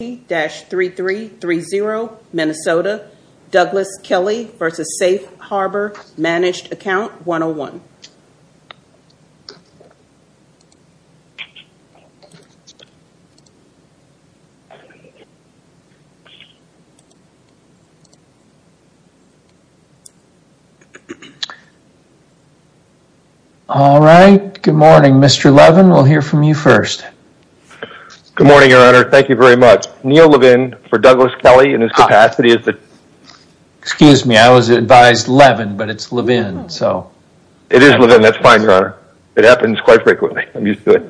3-3-3-0 Minnesota Douglas Kelley versus Safe Harbor Managed Account 101 All right, good morning, Mr. Levin, we'll hear from you first Good morning, Your Honor. Thank you very much. Neil Levin for Douglas Kelley in his capacity is that Excuse me. I was advised Levin, but it's Levin. So it is Levin. That's fine, Your Honor. It happens quite frequently. I'm used to it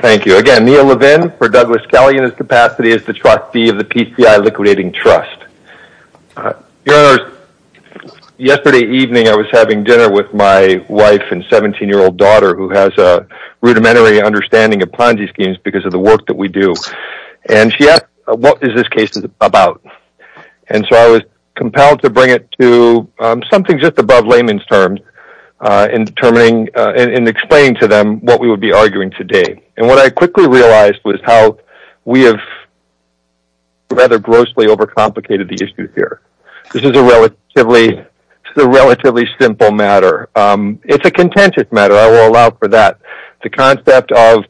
Thank you again, Neil Levin for Douglas Kelley in his capacity is the trustee of the PCI liquidating trust Yesterday evening I was having dinner with my wife and 17 year old daughter who has a Understanding of Ponzi schemes because of the work that we do and she asked what is this case is about and So I was compelled to bring it to Something just above layman's terms In determining and explaining to them what we would be arguing today. And what I quickly realized was how we have Rather grossly over complicated the issue here. This is a relatively the relatively simple matter It's a contentious matter I will allow for that the concept of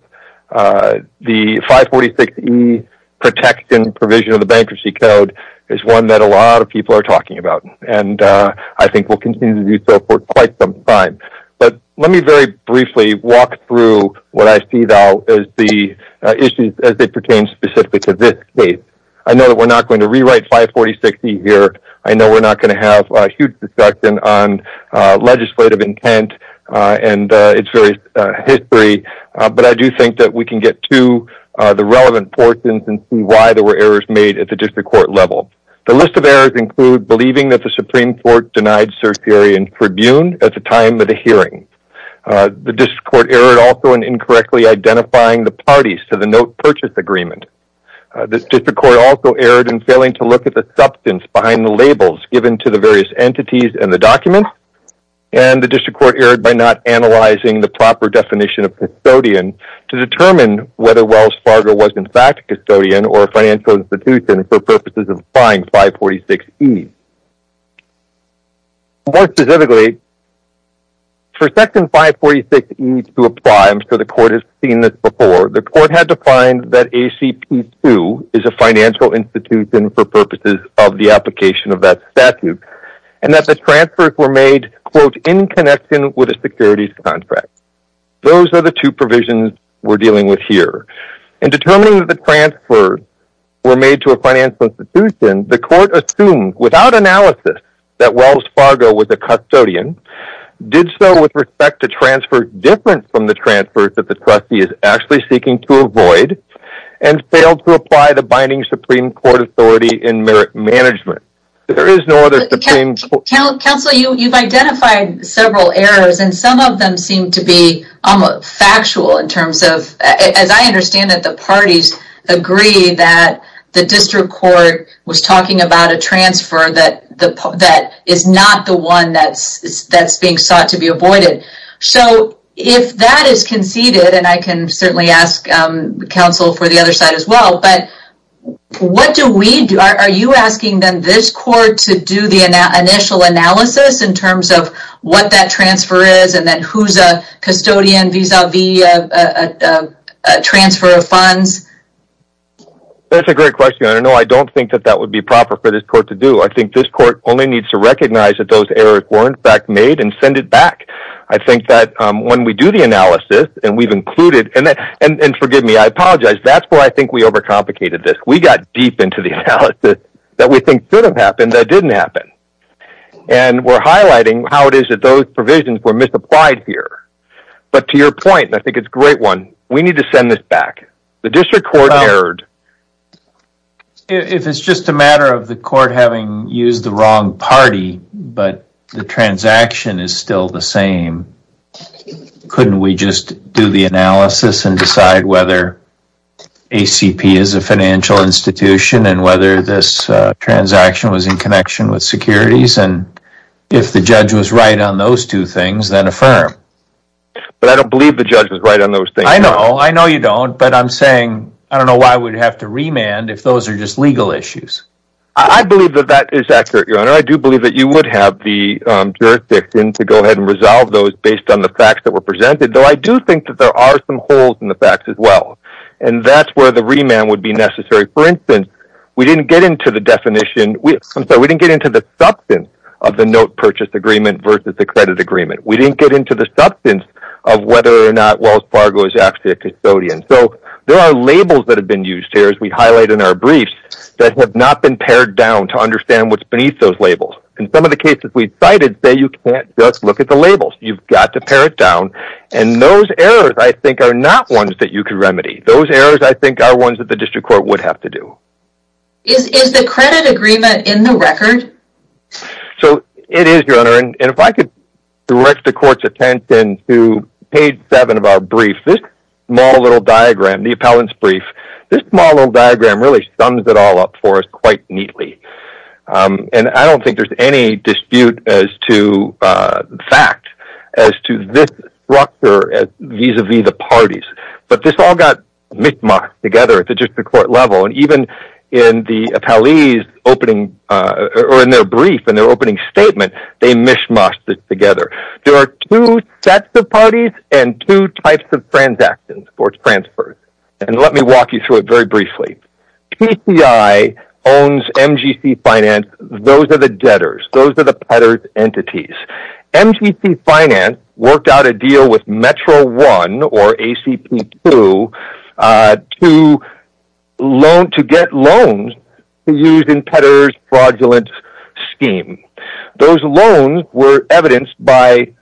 the 546 Protection provision of the bankruptcy code is one that a lot of people are talking about and I think we'll continue to do so for quite some time, but let me very briefly walk through what I see though is the Issues as they pertain specifically to this case. I know that we're not going to rewrite 540 60 here I know we're not going to have a huge discussion on Legislative intent and it's very History, but I do think that we can get to the relevant portions and see why there were errors made at the district court level The list of errors include believing that the Supreme Court denied certiorari and tribune at the time of the hearing The district court error also and incorrectly identifying the parties to the note purchase agreement This district court also erred in failing to look at the substance behind the labels given to the various entities and the documents And the district court erred by not analyzing the proper definition of custodian to determine whether Wells Fargo was in fact custodian or financial institution for purposes of applying 546 E More specifically For section 546 E to apply, I'm sure the court has seen this before, the court had to find that ACP2 is a financial institution for purposes of the application of that statute and that the transfers were made Quote in connection with a securities contract Those are the two provisions we're dealing with here and determining that the transfer Were made to a financial institution the court assumed without analysis that Wells Fargo was a custodian did so with respect to transfer different from the transfers that the trustee is actually seeking to avoid and Failed to apply the binding Supreme Court authority in merit management There is no other Supreme Court Counselor, you've identified several errors and some of them seem to be factual in terms of as I understand that the parties agree that The district court was talking about a transfer that that is not the one that's that's being sought to be avoided so if that is conceded and I can certainly ask counsel for the other side as well, but What do we do are you asking them this court to do the initial analysis in terms of what that transfer is and then who's a custodian vis-a-vis a Transfer of funds That's a great question. I don't know. I don't think that that would be proper for this court to do I think this court only needs to recognize that those errors weren't back made and send it back I think that when we do the analysis and we've included and that and and forgive me. I apologize That's where I think we over complicated this we got deep into the analysis that we think didn't happen. That didn't happen and We're highlighting how it is that those provisions were misapplied here But to your point, I think it's great one. We need to send this back the district court heard If it's just a matter of the court having used the wrong party, but the transaction is still the same Couldn't we just do the analysis and decide whether ACP is a financial institution and whether this Transaction was in connection with securities and if the judge was right on those two things then a firm But I don't believe the judge was right on those thing. I know I know you don't but I'm saying I don't know why we'd have to remand if those are just legal issues. I believe that that is accurate your honor I do believe that you would have the Jurisdiction to go ahead and resolve those based on the facts that were presented though I do think that there are some holes in the facts as well and that's where the remand would be necessary for instance We didn't get into the definition. We I'm sorry We didn't get into the substance of the note purchase agreement versus the credit agreement We didn't get into the substance of whether or not Wells Fargo is actually a custodian So there are labels that have been used here as we highlight in our briefs Have not been pared down to understand what's beneath those labels and some of the cases we've cited say you can't just look at the Labels you've got to pare it down and those errors I think are not ones that you can remedy those errors I think are ones that the district court would have to do So it is your honor and if I could Direct the court's attention to page seven of our brief this small little diagram the appellant's brief This model diagram really sums it all up for us quite neatly And I don't think there's any dispute as to fact as to this structure vis-a-vis the parties But this all got mishmash together at the district court level and even in the appellees Opening or in their brief and their opening statement. They mishmash this together There are two sets of parties and two types of transactions sports transfers and let me walk you through it very briefly PCI owns MGC Finance those are the debtors. Those are the peddlers entities MTC Finance worked out a deal with Metro one or a CP to to loan to get loans using peddlers fraudulent scheme Those loans were evidenced by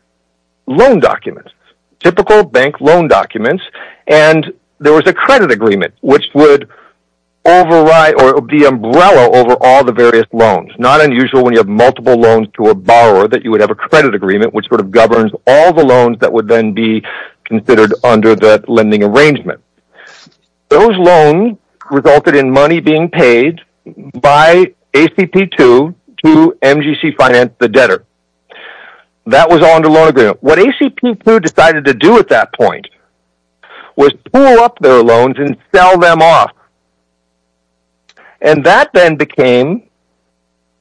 loan documents typical bank loan documents and There was a credit agreement, which would Override or the umbrella over all the various loans not unusual when you have multiple loans to a borrower that you would have a credit Agreement which sort of governs all the loans that would then be considered under the lending arrangement those loan resulted in money being paid by ACP to to MGC Finance the debtor That was on the loan agreement what ACP to decided to do at that point was pull up their loans and sell them off and That then became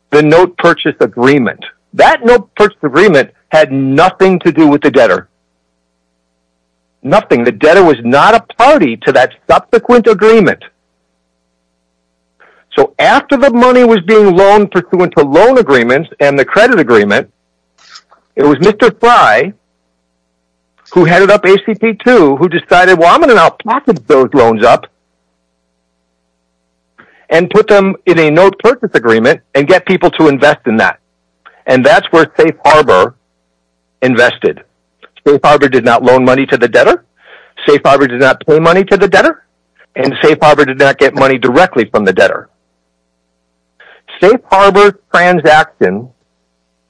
the note purchase agreement that note purchase agreement had nothing to do with the debtor Nothing the debtor was not a party to that subsequent agreement So After the money was being loaned pursuant to loan agreements and the credit agreement it was mr. Fry Who headed up a CP to who decided well, I'm gonna now package those loans up and Put them in a note purchase agreement and get people to invest in that and that's where safe harbor Invested safe harbor did not loan money to the debtor Safe harbor did not pay money to the debtor and safe harbor did not get money directly from the debtor Safe harbor transaction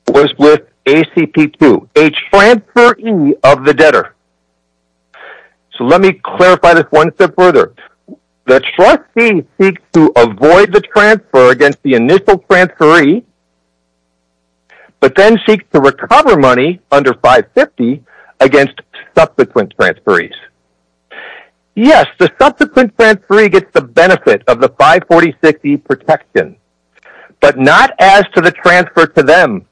was with a CP to a transfer of the debtor So, let me clarify this one step further the trustee seek to avoid the transfer against the initial transfer e But then seek to recover money under 550 against subsequent transfer ease Yes, the subsequent transfer e gets the benefit of the 540 60 protection, but not as to the transfer to them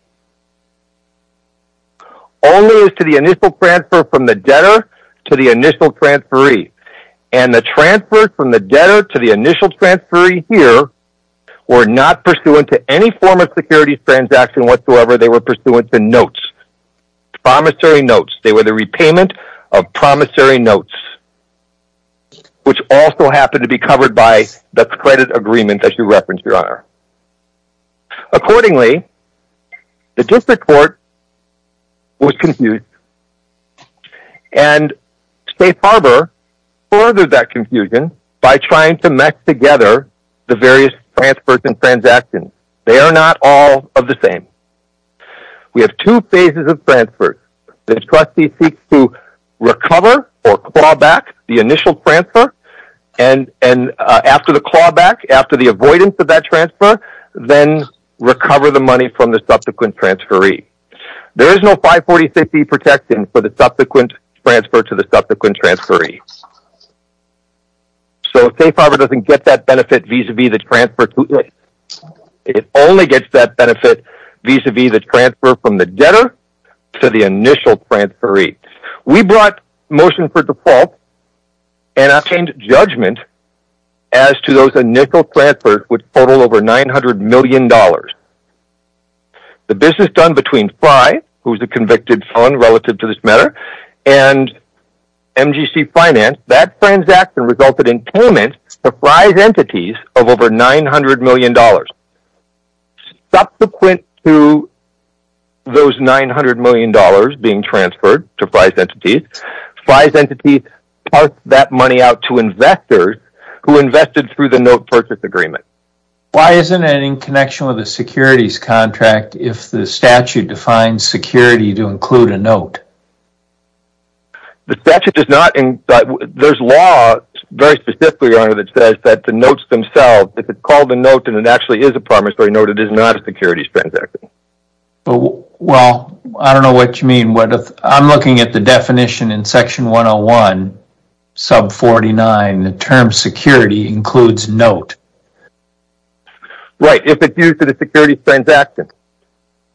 Only is to the initial transfer from the debtor to the initial transfer e and The transfer from the debtor to the initial transfer e here Were not pursuant to any form of securities transaction whatsoever. They were pursuant to notes Promissory notes they were the repayment of promissory notes Which also happened to be covered by the credit agreement that you referenced your honor Accordingly the district court was confused and Safe harbor Furthered that confusion by trying to mess together the various transfers and transactions. They are not all of the same We have two phases of transfers the trustee seeks to recover or clawback the initial transfer and and After the clawback after the avoidance of that transfer then recover the money from the subsequent transfer e There is no 540 60 protection for the subsequent transfer to the subsequent transfer e So safe harbor doesn't get that benefit visa be the transfer to it It only gets that benefit visa be the transfer from the debtor to the initial transfer e we brought motion for default and obtained judgment as To those a nickel transfer would total over nine hundred million dollars the business done between fly who's the convicted fund relative to this matter and Mgc finance that transaction resulted in payment surprise entities of over nine hundred million dollars Subsequent to Those nine hundred million dollars being transferred to price entities flies entity Part that money out to investors who invested through the note purchase agreement Why isn't it in connection with a securities contract if the statute defines security to include a note? The statute is not in but there's law Very specifically on it. It says that the notes themselves if it's called a note and it actually is a primary note It is not a securities transaction Well, I don't know what you mean. What if I'm looking at the definition in section 101 sub 49 the term security includes note Right if it's used to the security transaction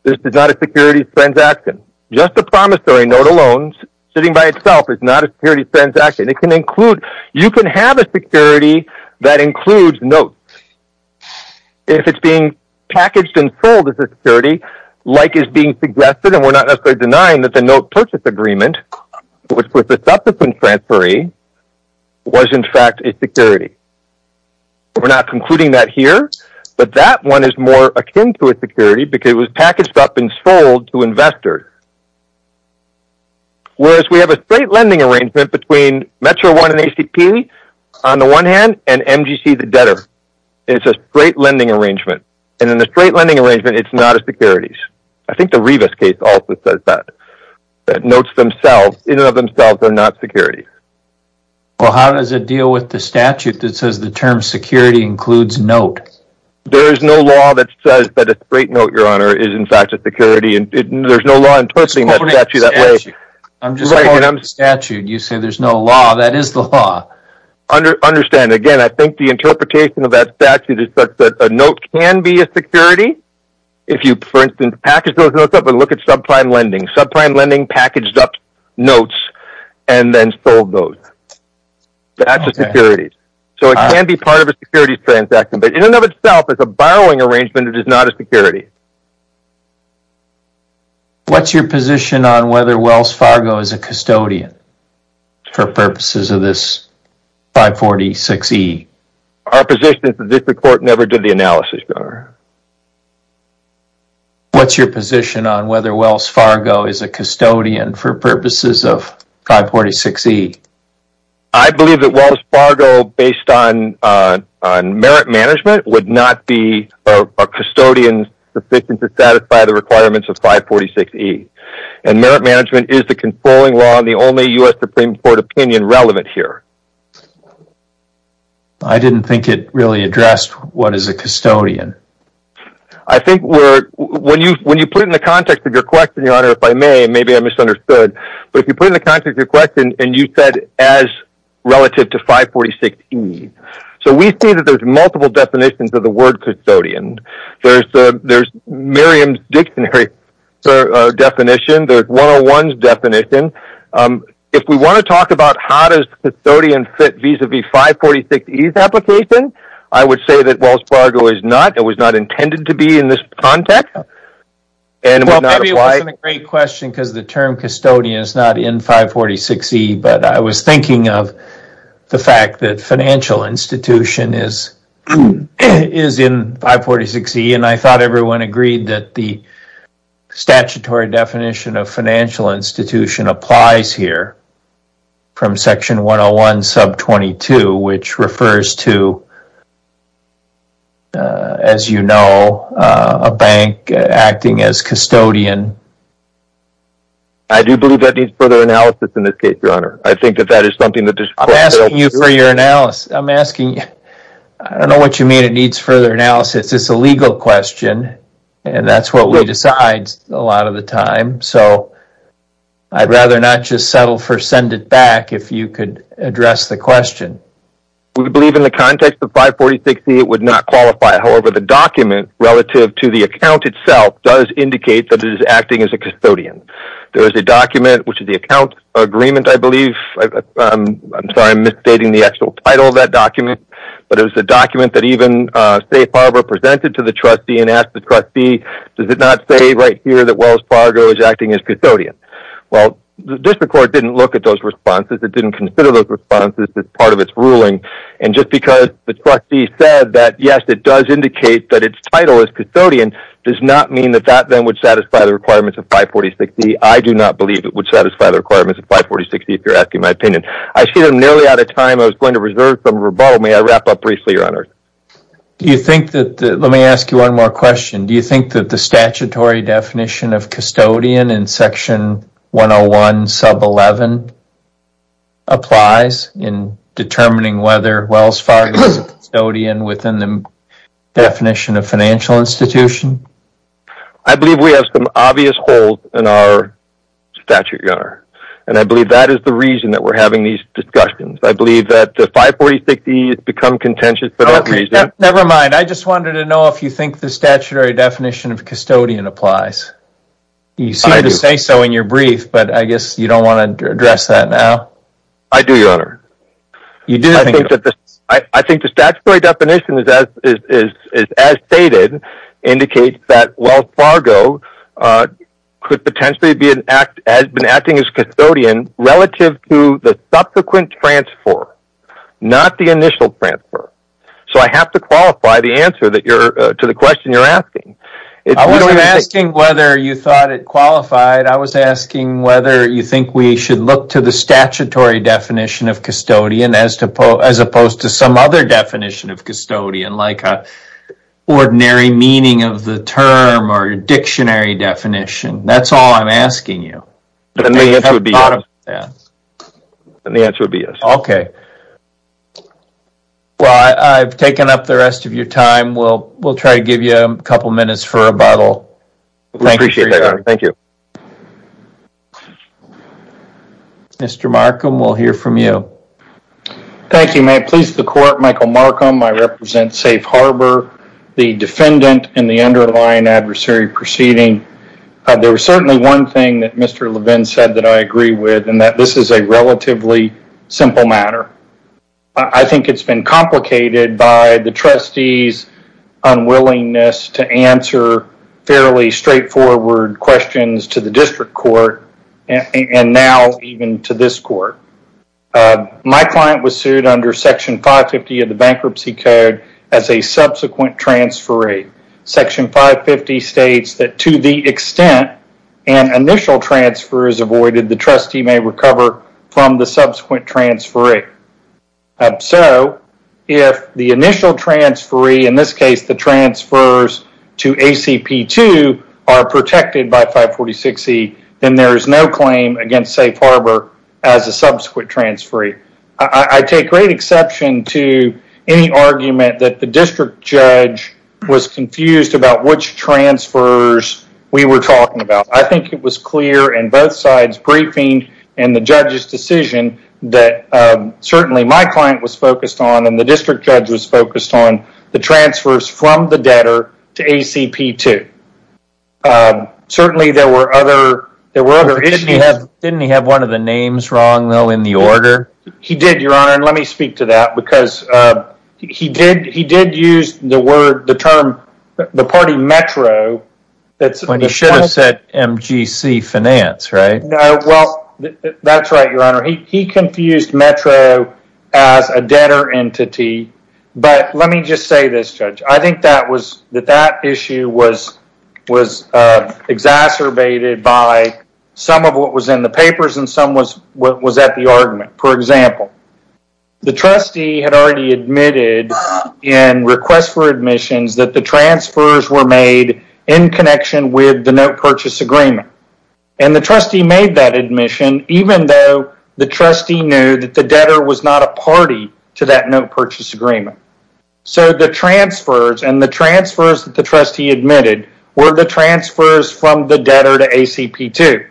This is not a security transaction Just a promissory note alone sitting by itself is not a security transaction It can include you can have a security that includes notes If it's being packaged and sold as a security like is being suggested and we're not necessarily denying that the note purchase agreement Which was the subsequent transfer e? Was in fact a security We're not concluding that here, but that one is more akin to a security because it was packaged up and sold to investors Whereas we have a straight lending arrangement between Metro one and ACP on the one hand and MGC the debtor It's a straight lending arrangement and in the straight lending arrangement. It's not a securities I think the Rivas case also says that that notes themselves in and of themselves are not security Well, how does it deal with the statute that says the term security includes note There is no law that says that a straight note your honor is in fact a security and there's no law in Touchy that way. I'm just a statute. You say there's no law that is the law Understand again. I think the interpretation of that statute is that a note can be a security if you for instance package Those notes up and look at subprime lending subprime lending packaged up notes And then sold those That's a security so it can be part of a security transaction, but in and of itself as a borrowing arrangement It is not a security What's your position on whether Wells Fargo is a custodian for purposes of this 546 e our position is the district court never did the analysis bar What's your position on whether Wells Fargo is a custodian for purposes of 546 e I believe that Wells Fargo based on merit management would not be a custodian sufficient to satisfy the requirements of 546 e and Merit management is the controlling law on the only US Supreme Court opinion relevant here. I Didn't think it really addressed. What is a custodian? I think we're when you when you put in the context of your question your honor if I may maybe I misunderstood but if you put in the context of your question and you said as Relative to 546 e so we see that there's multiple definitions of the word custodian There's the there's Miriam's dictionary Definition there's one of one's definition If we want to talk about how does custodian fit vis-a-vis 546 ease application I would say that Wells Fargo is not it was not intended to be in this context And why a great question because the term custodian is not in 546 e but I was thinking of the fact that financial institution is is in 546 e and I thought everyone agreed that the statutory definition of financial institution applies here from section 101 sub 22 which refers to As you know a bank acting as custodian I Do believe that needs further analysis in this case your honor. I think that that is something that I'm asking you for your analysis I'm asking you. I don't know what you mean. It needs further analysis It's a legal question and that's what we decides a lot of the time. So I Rather not just settle for send it back if you could address the question We believe in the context of 546 e it would not qualify However, the document relative to the account itself does indicate that it is acting as a custodian There is a document which is the account agreement. I believe I'm sorry I'm misstating the actual title of that document But it was the document that even say Farber presented to the trustee and asked the trustee Does it not say right here that Wells Fargo is acting as custodian? Well, the district court didn't look at those responses It didn't consider those responses as part of its ruling and just because the trustee said that yes It does indicate that its title is custodian does not mean that that then would satisfy the requirements of 540 60 I do not believe it would satisfy the requirements of 540 60 if you're asking my opinion I see them nearly out of time. I was going to reserve some rebuttal. May I wrap up briefly your honor? Do you think that let me ask you one more question? Do you think that the statutory definition of custodian in section 101 sub 11? applies in determining whether Wells Fargo stodian within the definition of financial institution, I believe we have some obvious holes in our Statute yard, and I believe that is the reason that we're having these discussions. I believe that the 540 60 become contentious Never mind. I just wanted to know if you think the statutory definition of custodian applies You say so in your brief, but I guess you don't want to address that now. I do your honor You do think that this I think the statutory definition is as stated indicates that Wells Fargo Could potentially be an act has been acting as custodian relative to the subsequent transfer Not the initial transfer, so I have to qualify the answer that you're to the question you're asking It's asking whether you thought it qualified I was asking whether you think we should look to the statutory definition of custodian as to pull as opposed to some other definition of custodian like a Ordinary meaning of the term or a dictionary definition. That's all I'm asking you Yeah, and the answer would be yes, okay Well, I've taken up the rest of your time we'll we'll try to give you a couple minutes for a bottle Thank you Mr. Markham, we'll hear from you Thank you may please the court Michael Markham. I represent Safe Harbor the defendant in the underlying adversary proceeding There was certainly one thing that mr. Levin said that I agree with and that this is a relatively simple matter I Think it's been complicated by the trustees unwillingness to answer Fairly straightforward questions to the district court and now even to this court My client was sued under section 550 of the bankruptcy code as a subsequent transfer rate Section 550 states that to the extent an Initial transfer is avoided the trustee may recover from the subsequent transfer rate so if the initial transferee in this case the transfers to ACP to are Protected by 540 60 then there is no claim against Safe Harbor as a subsequent transferee I take great exception to any argument that the district judge Was confused about which transfers we were talking about I think it was clear and both sides briefing and the judge's decision that Certainly my client was focused on and the district judge was focused on the transfers from the debtor to ACP to Certainly there were other there were other issues Didn't he have one of the names wrong though in the order? He did your honor and let me speak to that because He did he did use the word the term the party Metro That's when he should have said MGC finance, right? That's right. Your honor. He confused Metro as a debtor entity But let me just say this judge. I think that was that that issue was was Exacerbated by some of what was in the papers and some was what was at the argument for example The trustee had already admitted in requests for admissions that the transfers were made in connection with the note purchase agreement and The trustee made that admission even though the trustee knew that the debtor was not a party to that note purchase agreement So the transfers and the transfers that the trustee admitted were the transfers from the debtor to ACP to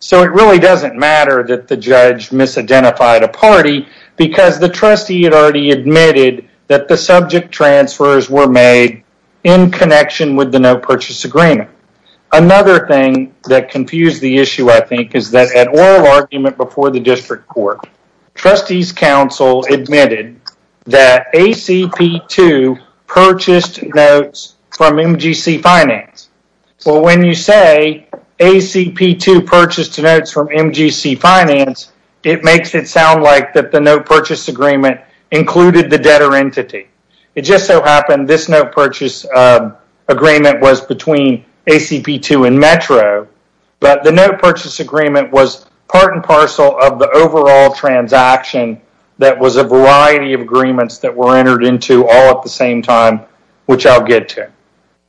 So it really doesn't matter that the judge Misidentified a party because the trustee had already admitted that the subject transfers were made in connection with the note purchase agreement Another thing that confused the issue. I think is that at all argument before the district court trustees council admitted that ACP to purchased notes from MGC finance so when you say ACP to purchase two notes from MGC finance It makes it sound like that the note purchase agreement included the debtor entity. It just so happened this note purchase Agreement was between ACP to and Metro But the note purchase agreement was part and parcel of the overall transaction That was a variety of agreements that were entered into all at the same time, which I'll get to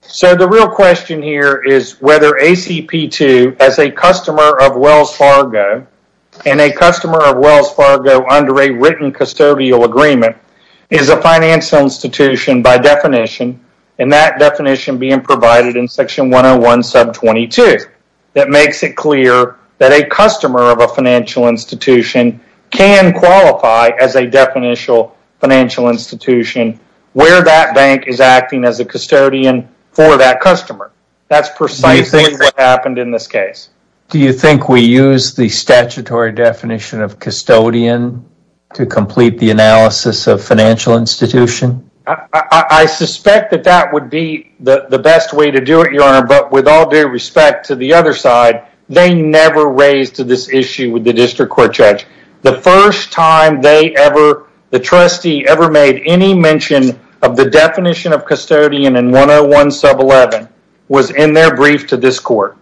So the real question here is whether ACP to as a customer of Wells Fargo And a customer of Wells Fargo under a written custodial agreement is a financial institution by definition And that definition being provided in section 101 sub 22 That makes it clear that a customer of a financial institution Can qualify as a definitional financial institution where that bank is acting as a custodian? For that customer that's precisely what happened in this case. Do you think we use the statutory definition of custodian? to complete the analysis of financial institution I Suspect that that would be the best way to do it your honor But with all due respect to the other side They never raised to this issue with the district court judge the first time they ever The trustee ever made any mention of the definition of custodian and 101 sub 11 was in their brief to this court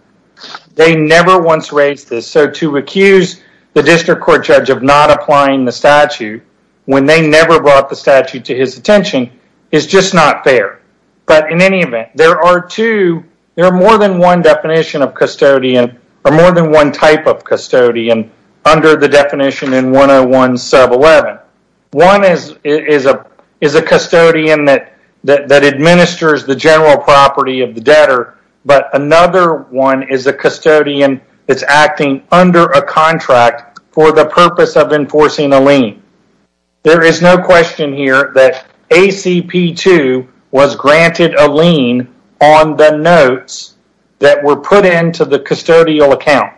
They never once raised this so to accuse the district court judge of not applying the statute When they never brought the statute to his attention is just not fair But in any event there are two There are more than one definition of custodian or more than one type of custodian under the definition in 101 Sub 11 one is is a is a custodian that that administers the general property of the debtor But another one is a custodian. It's acting under a contract for the purpose of enforcing a lien There is no question here that ACP to was granted a lien on the notes that were put into the custodial account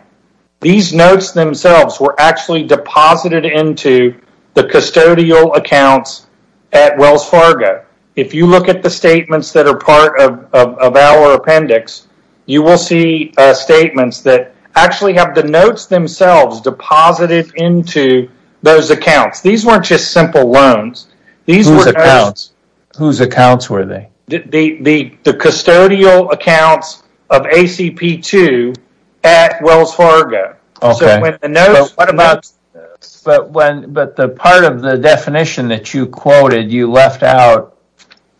These notes themselves were actually deposited into the custodial accounts at Wells Fargo if you look at the statements that are part of our appendix you will see Statements that actually have the notes themselves deposited into those accounts. These weren't just simple loans These were the accounts whose accounts were they the the custodial accounts of? ACP to at Wells Fargo But when but the part of the definition that you quoted you left out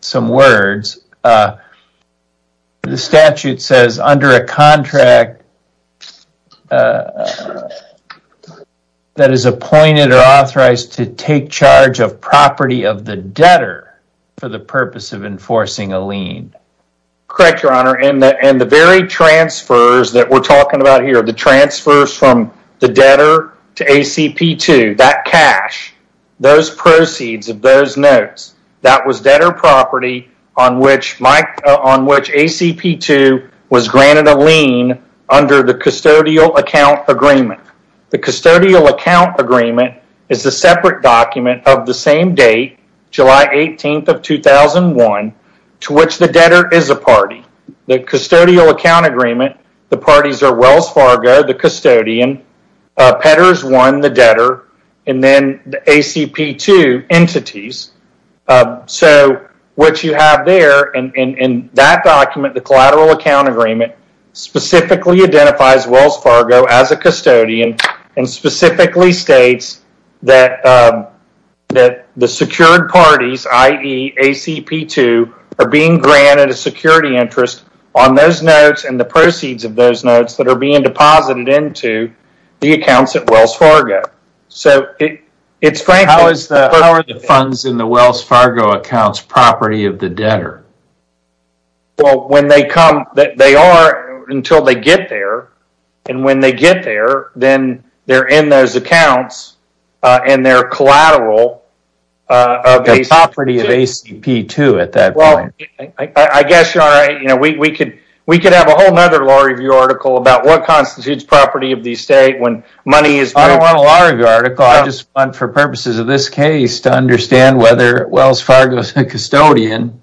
some words The statute says under a contract That is appointed or authorized to take charge of property of the debtor for the purpose of enforcing a lien Correct your honor in the and the very Transfers that we're talking about here the transfers from the debtor to ACP to that cash Those proceeds of those notes that was debtor property on which Mike on which ACP to was granted a lien Under the custodial account agreement the custodial account agreement is the separate document of the same date? July 18th of 2001 To which the debtor is a party the custodial account agreement the parties are Wells Fargo the custodian Petters won the debtor and then the ACP to entities So what you have there and in that document the collateral account agreement specifically identifies Wells Fargo as a custodian and specifically states that That the secured parties ie ACP to are being granted a security interest on those notes and the proceeds of those notes that are being deposited into the accounts at Wells Fargo So it it's Frank. How is the funds in the Wells Fargo accounts property of the debtor? Well when they come that they are until they get there and when they get there then they're in those accounts And they're collateral Of a property of ACP to at that well I guess you're right, you know We could we could have a whole nother law review article about what constitutes property of the estate when money is I don't want a lot Of your article. I just want for purposes of this case to understand whether Wells Fargo is a custodian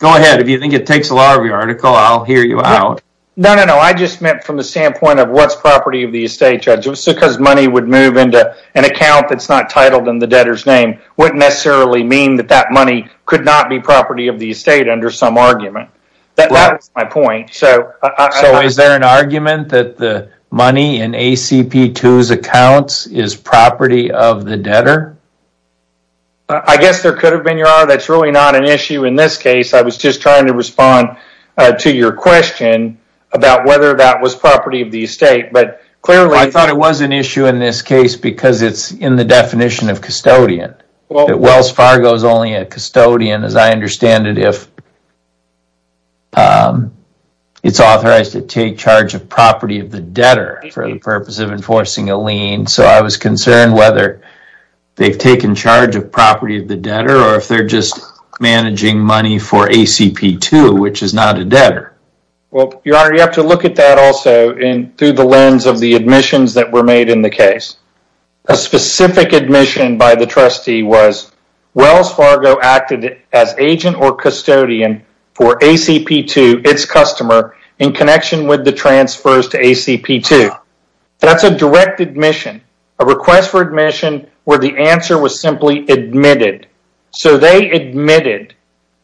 Go ahead. If you think it takes a lot of your article, I'll hear you out. No, no I just meant from the standpoint of what's property of the estate judges because money would move into an account That's not titled in the debtor's name wouldn't necessarily mean that that money could not be property of the estate under some argument That's my point. So So is there an argument that the money in ACP to accounts is property of the debtor? I Guess there could have been your honor. That's really not an issue in this case I was just trying to respond to your question about whether that was property of the estate But clearly I thought it was an issue in this case because it's in the definition of custodian Well, it Wells Fargo is only a custodian as I understand it if It's authorized to take charge of property of the debtor for the purpose of enforcing a lien so I was concerned whether They've taken charge of property of the debtor or if they're just managing money for ACP to which is not a debtor well, your honor you have to look at that also in through the lens of the admissions that were made in the case a specific admission by the trustee was Wells Fargo acted as agent or custodian for ACP to its customer in connection with the transfers to ACP to That's a direct admission a request for admission where the answer was simply admitted so they admitted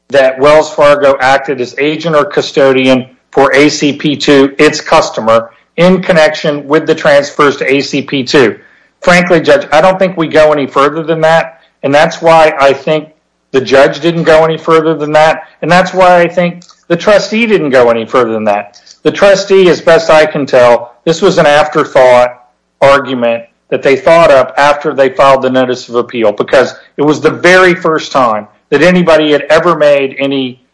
that Wells Fargo acted as agent or custodian for ACP to its customer in Connection with the transfers to ACP to frankly judge I don't think we go any further than that and that's why I think The judge didn't go any further than that And that's why I think the trustee didn't go any further than that The trustee as best I can tell this was an afterthought Argument that they thought of after they filed the notice of appeal because it was the very first time that anybody had ever made any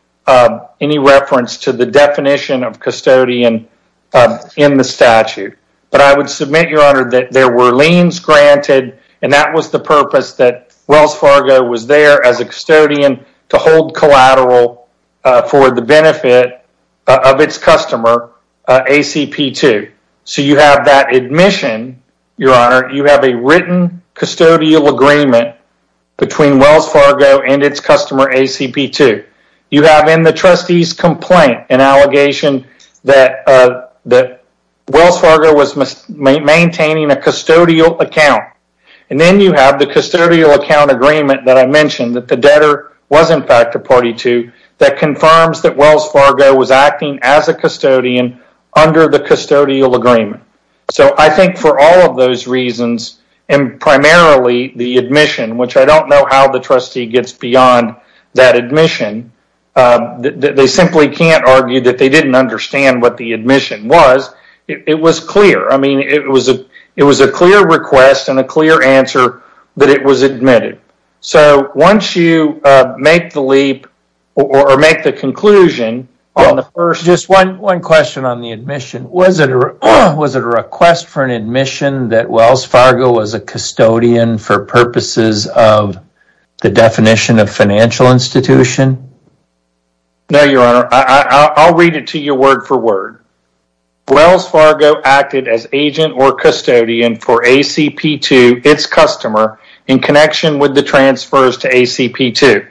any reference to the definition of custodian In the statute, but I would submit your honor that there were liens granted And that was the purpose that Wells Fargo was there as a custodian to hold collateral For the benefit of its customer ACP to so you have that admission your honor. You have a written custodial agreement between Wells Fargo and its customer ACP to you have in the trustees complaint an allegation that the Wells Fargo was Maintaining a custodial account and then you have the custodial account agreement that I mentioned that the debtor Was in fact a party to that confirms that Wells Fargo was acting as a custodian under the custodial agreement So I think for all of those reasons and primarily the admission which I don't know how the trustee gets beyond that admission They simply can't argue that they didn't understand what the admission was. It was clear I mean it was a it was a clear request and a clear answer that it was admitted So once you make the leap or make the conclusion on the first just one one question on the admission was it or was it a request for an admission that Wells Fargo was a custodian for purposes of the definition of financial institution No, your honor. I'll read it to you word-for-word Wells Fargo acted as agent or custodian for ACP to its customer in connection with the transfers to ACP to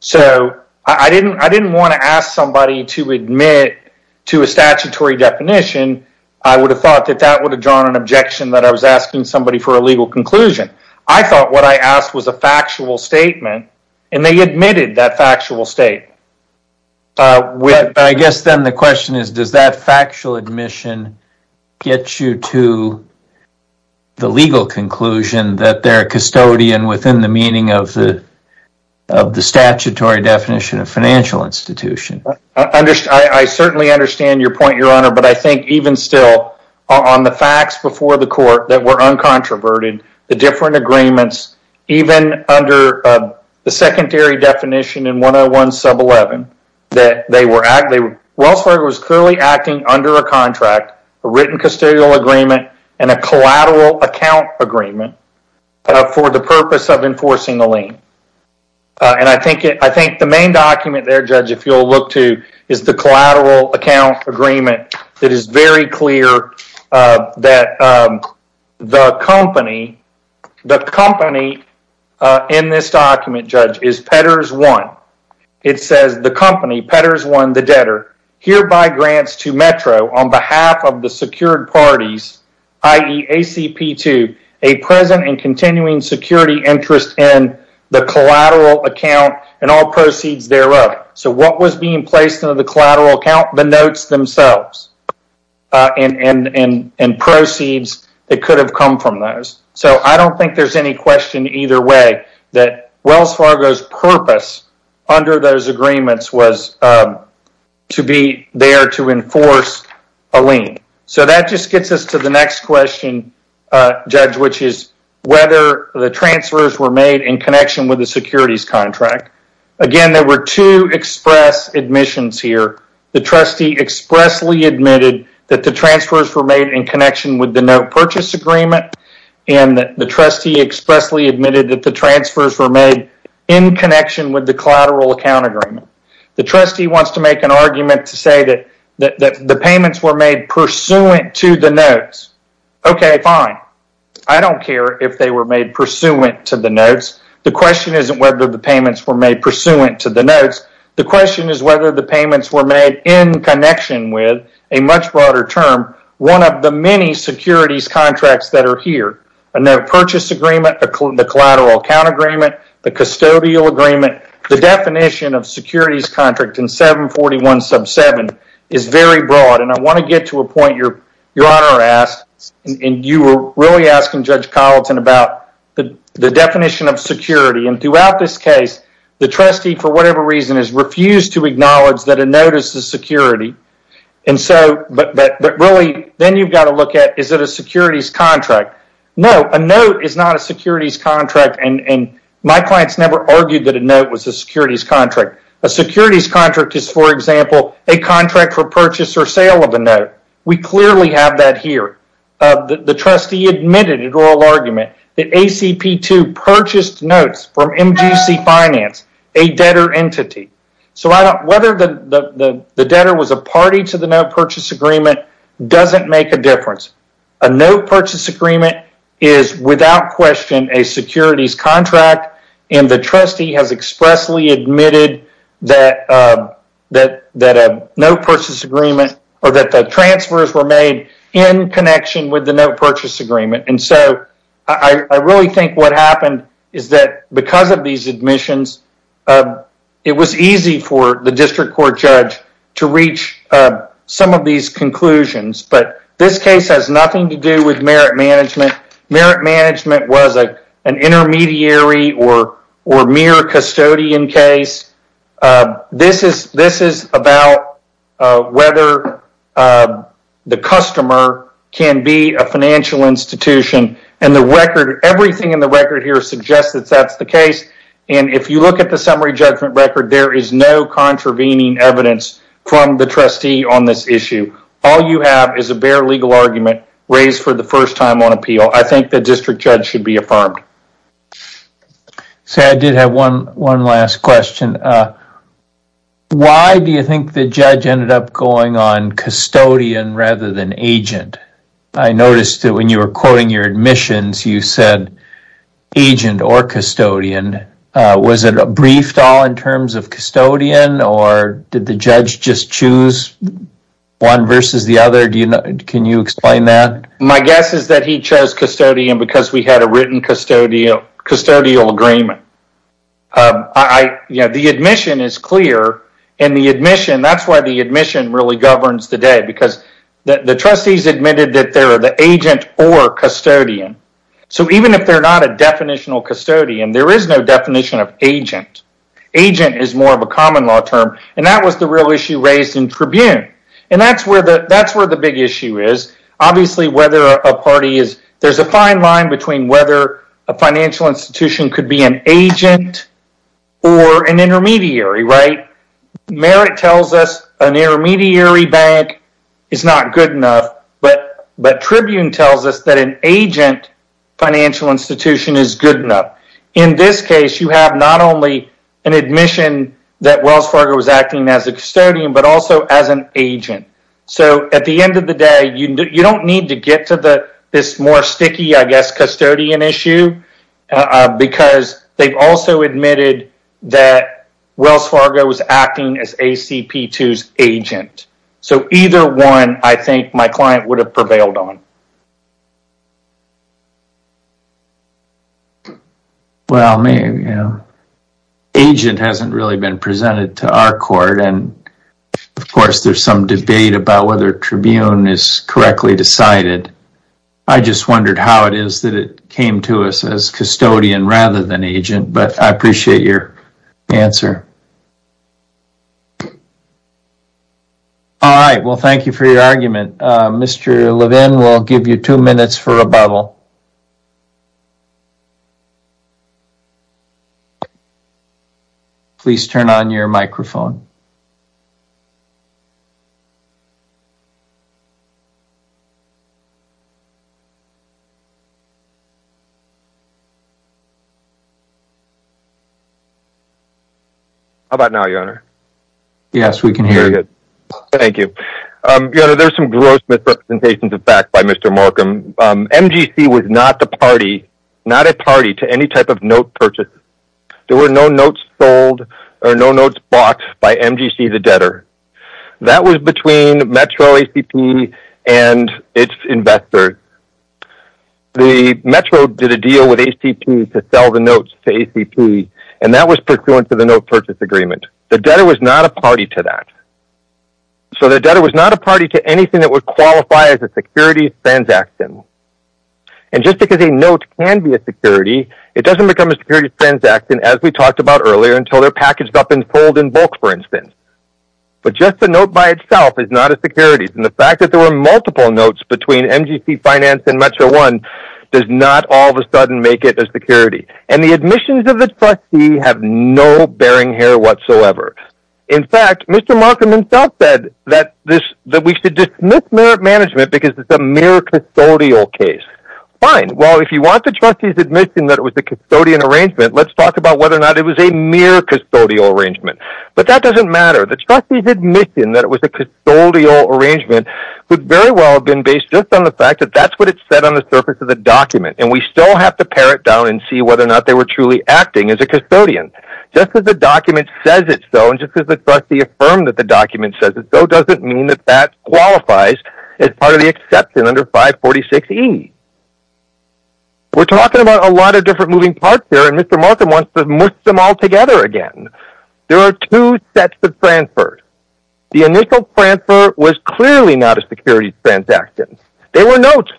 So I didn't I didn't want to ask somebody to admit to a statutory definition I would have thought that that would have drawn an objection that I was asking somebody for a legal conclusion I thought what I asked was a factual statement and they admitted that factual state Well, I guess then the question is does that factual admission get you to the legal conclusion that they're a custodian within the meaning of the of the statutory definition of financial institution Understand I certainly understand your point your honor But I think even still on the facts before the court that were uncontroverted the different agreements Even under the secondary definition in 101 sub 11 that they were at they were Wells Fargo was clearly acting under a contract a written custodial agreement and a collateral account agreement for the purpose of enforcing the lien And I think it I think the main document there judge if you'll look to is the collateral account agreement that is very clear that the company The company In this document judge is Petters one It says the company Petters won the debtor hereby grants to Metro on behalf of the secured parties ie ACP to a present and continuing security interest in the collateral account and all proceeds thereof So what was being placed into the collateral account the notes themselves? And and and and proceeds that could have come from those so I don't think there's any question either way that Wells Fargo's purpose under those agreements was To be there to enforce a lien so that just gets us to the next question Judge, which is whether the transfers were made in connection with the securities contract again To express admissions here the trustee expressly admitted that the transfers were made in connection with the note purchase agreement and The trustee expressly admitted that the transfers were made in connection with the collateral account agreement The trustee wants to make an argument to say that that the payments were made pursuant to the notes Okay, fine. I don't care if they were made pursuant to the notes The question isn't whether the payments were made pursuant to the notes The question is whether the payments were made in connection with a much broader term one of the many securities contracts that are here and their purchase agreement the collateral account agreement the custodial agreement the definition of securities contract in 741 sub 7 is very broad and I want to get to a point your your honor asked And you were really asking Judge Colleton about the the definition of security and throughout this case The trustee for whatever reason has refused to acknowledge that a notice the security and so but but really then you've got to look At is that a securities contract? No a note is not a securities contract and and my clients never argued that a note was a securities contract a Securities contract is for example a contract for purchase or sale of a note. We clearly have that here the trustee admitted in oral argument that ACP to purchased notes from MTC finance a Debtor entity. So I don't whether the the debtor was a party to the note purchase agreement Doesn't make a difference a note purchase agreement is without question a securities contract and the trustee has expressly admitted that That that a note purchase agreement or that the transfers were made in connection with the note purchase agreement and so I Really think what happened is that because of these admissions? It was easy for the district court judge to reach Some of these conclusions, but this case has nothing to do with merit management Merit management was a an intermediary or or mere custodian case This is this is about whether The customer can be a financial institution and the record everything in the record here suggests that that's the case And if you look at the summary judgment record, there is no Contravening evidence from the trustee on this issue. All you have is a bare legal argument raised for the first time on appeal I think the district judge should be affirmed So I did have one one last question Why do you think the judge ended up going on custodian rather than agent I noticed that when you were quoting your admissions you said agent or custodian Was it a brief stall in terms of custodian or did the judge just choose? One versus the other do you know? My guess is that he chose custodian because we had a written custodial custodial agreement Yeah, the admission is clear and the admission That's why the admission really governs the day because the trustees admitted that there are the agent or custodian So even if they're not a definitional custodian, there is no definition of agent Agent is more of a common-law term and that was the real issue raised in Tribune and that's where the that's where the big issue is obviously whether a party is there's a fine line between whether a Financial institution could be an agent or an intermediary, right? Merit tells us an intermediary bank is not good enough. But but Tribune tells us that an agent Financial institution is good enough in this case You have not only an admission that Wells Fargo was acting as a custodian, but also as an agent So at the end of the day, you don't need to get to the this more sticky. I guess custodian issue because they've also admitted that Wells Fargo was acting as a CP twos agent. So either one I think my client would have prevailed on Well me, you know Agent hasn't really been presented to our court. And of course, there's some debate about whether Tribune is correctly decided I just wondered how it is that it came to us as custodian rather than agent, but I appreciate your answer All right, well, thank you for your argument Mr. Levin will give you two minutes for a bubble Please turn on your microphone How about now your honor Yes, we can hear you. Thank you There's some gross misrepresentations of fact by mr. Markham MGC was not the party not a party to any type of note purchase There were no notes sold or no notes boxed by MGC the debtor That was between Metro ACP and its investors The Metro did a deal with ACP to sell the notes to ACP and that was pursuant to the note purchase agreement The debtor was not a party to that so the debtor was not a party to anything that would qualify as a security transaction and Just because a note can be a security It doesn't become a security transaction as we talked about earlier until they're packaged up and pulled in bulk for instance But just the note by itself is not a securities and the fact that there were multiple notes between MGC finance and Metro one Does not all of a sudden make it as security and the admissions of the trustee have no bearing here whatsoever In fact, mr Markham himself said that this that we should dismiss merit management because it's a miracle Custodial case fine. Well, if you want to trust you to admit in that it was the custodian arrangement Let's talk about whether or not it was a mere custodial arrangement But that doesn't matter the trustee's admission that it was a custodial Arrangement would very well have been based just on the fact that that's what it said on the surface of the document and we still have to pare it down and see whether or not they were truly acting as a custodian just as the document says it so and Just as the trustee affirmed that the document says it so doesn't mean that that qualifies as part of the exception under 546 e We're talking about a lot of different moving parts there and mr. Markham wants to mix them all together again There are two sets of transfers the initial transfer was clearly not a security transaction they were notes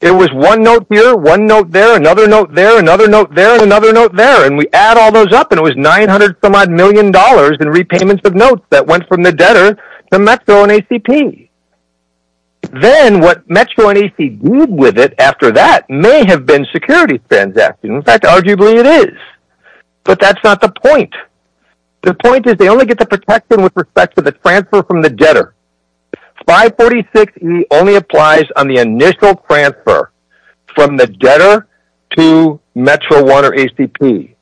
It was one note here one note there another note there another note there another note there and we add all those up and it Was 900 some odd million dollars in repayments of notes that went from the debtor to Metro and ACP Then what Metro and ACP did with it after that may have been security transaction. In fact, arguably it is But that's not the point the point is they only get the protection with respect to the transfer from the debtor 546 he only applies on the initial transfer from the debtor to Metro water ACP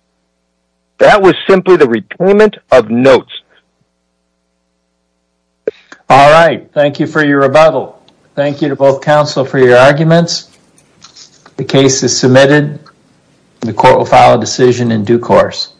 That was simply the repayment of notes All right, thank you for your rebuttal thank you to both counsel for your arguments The case is submitted The court will file a decision in due course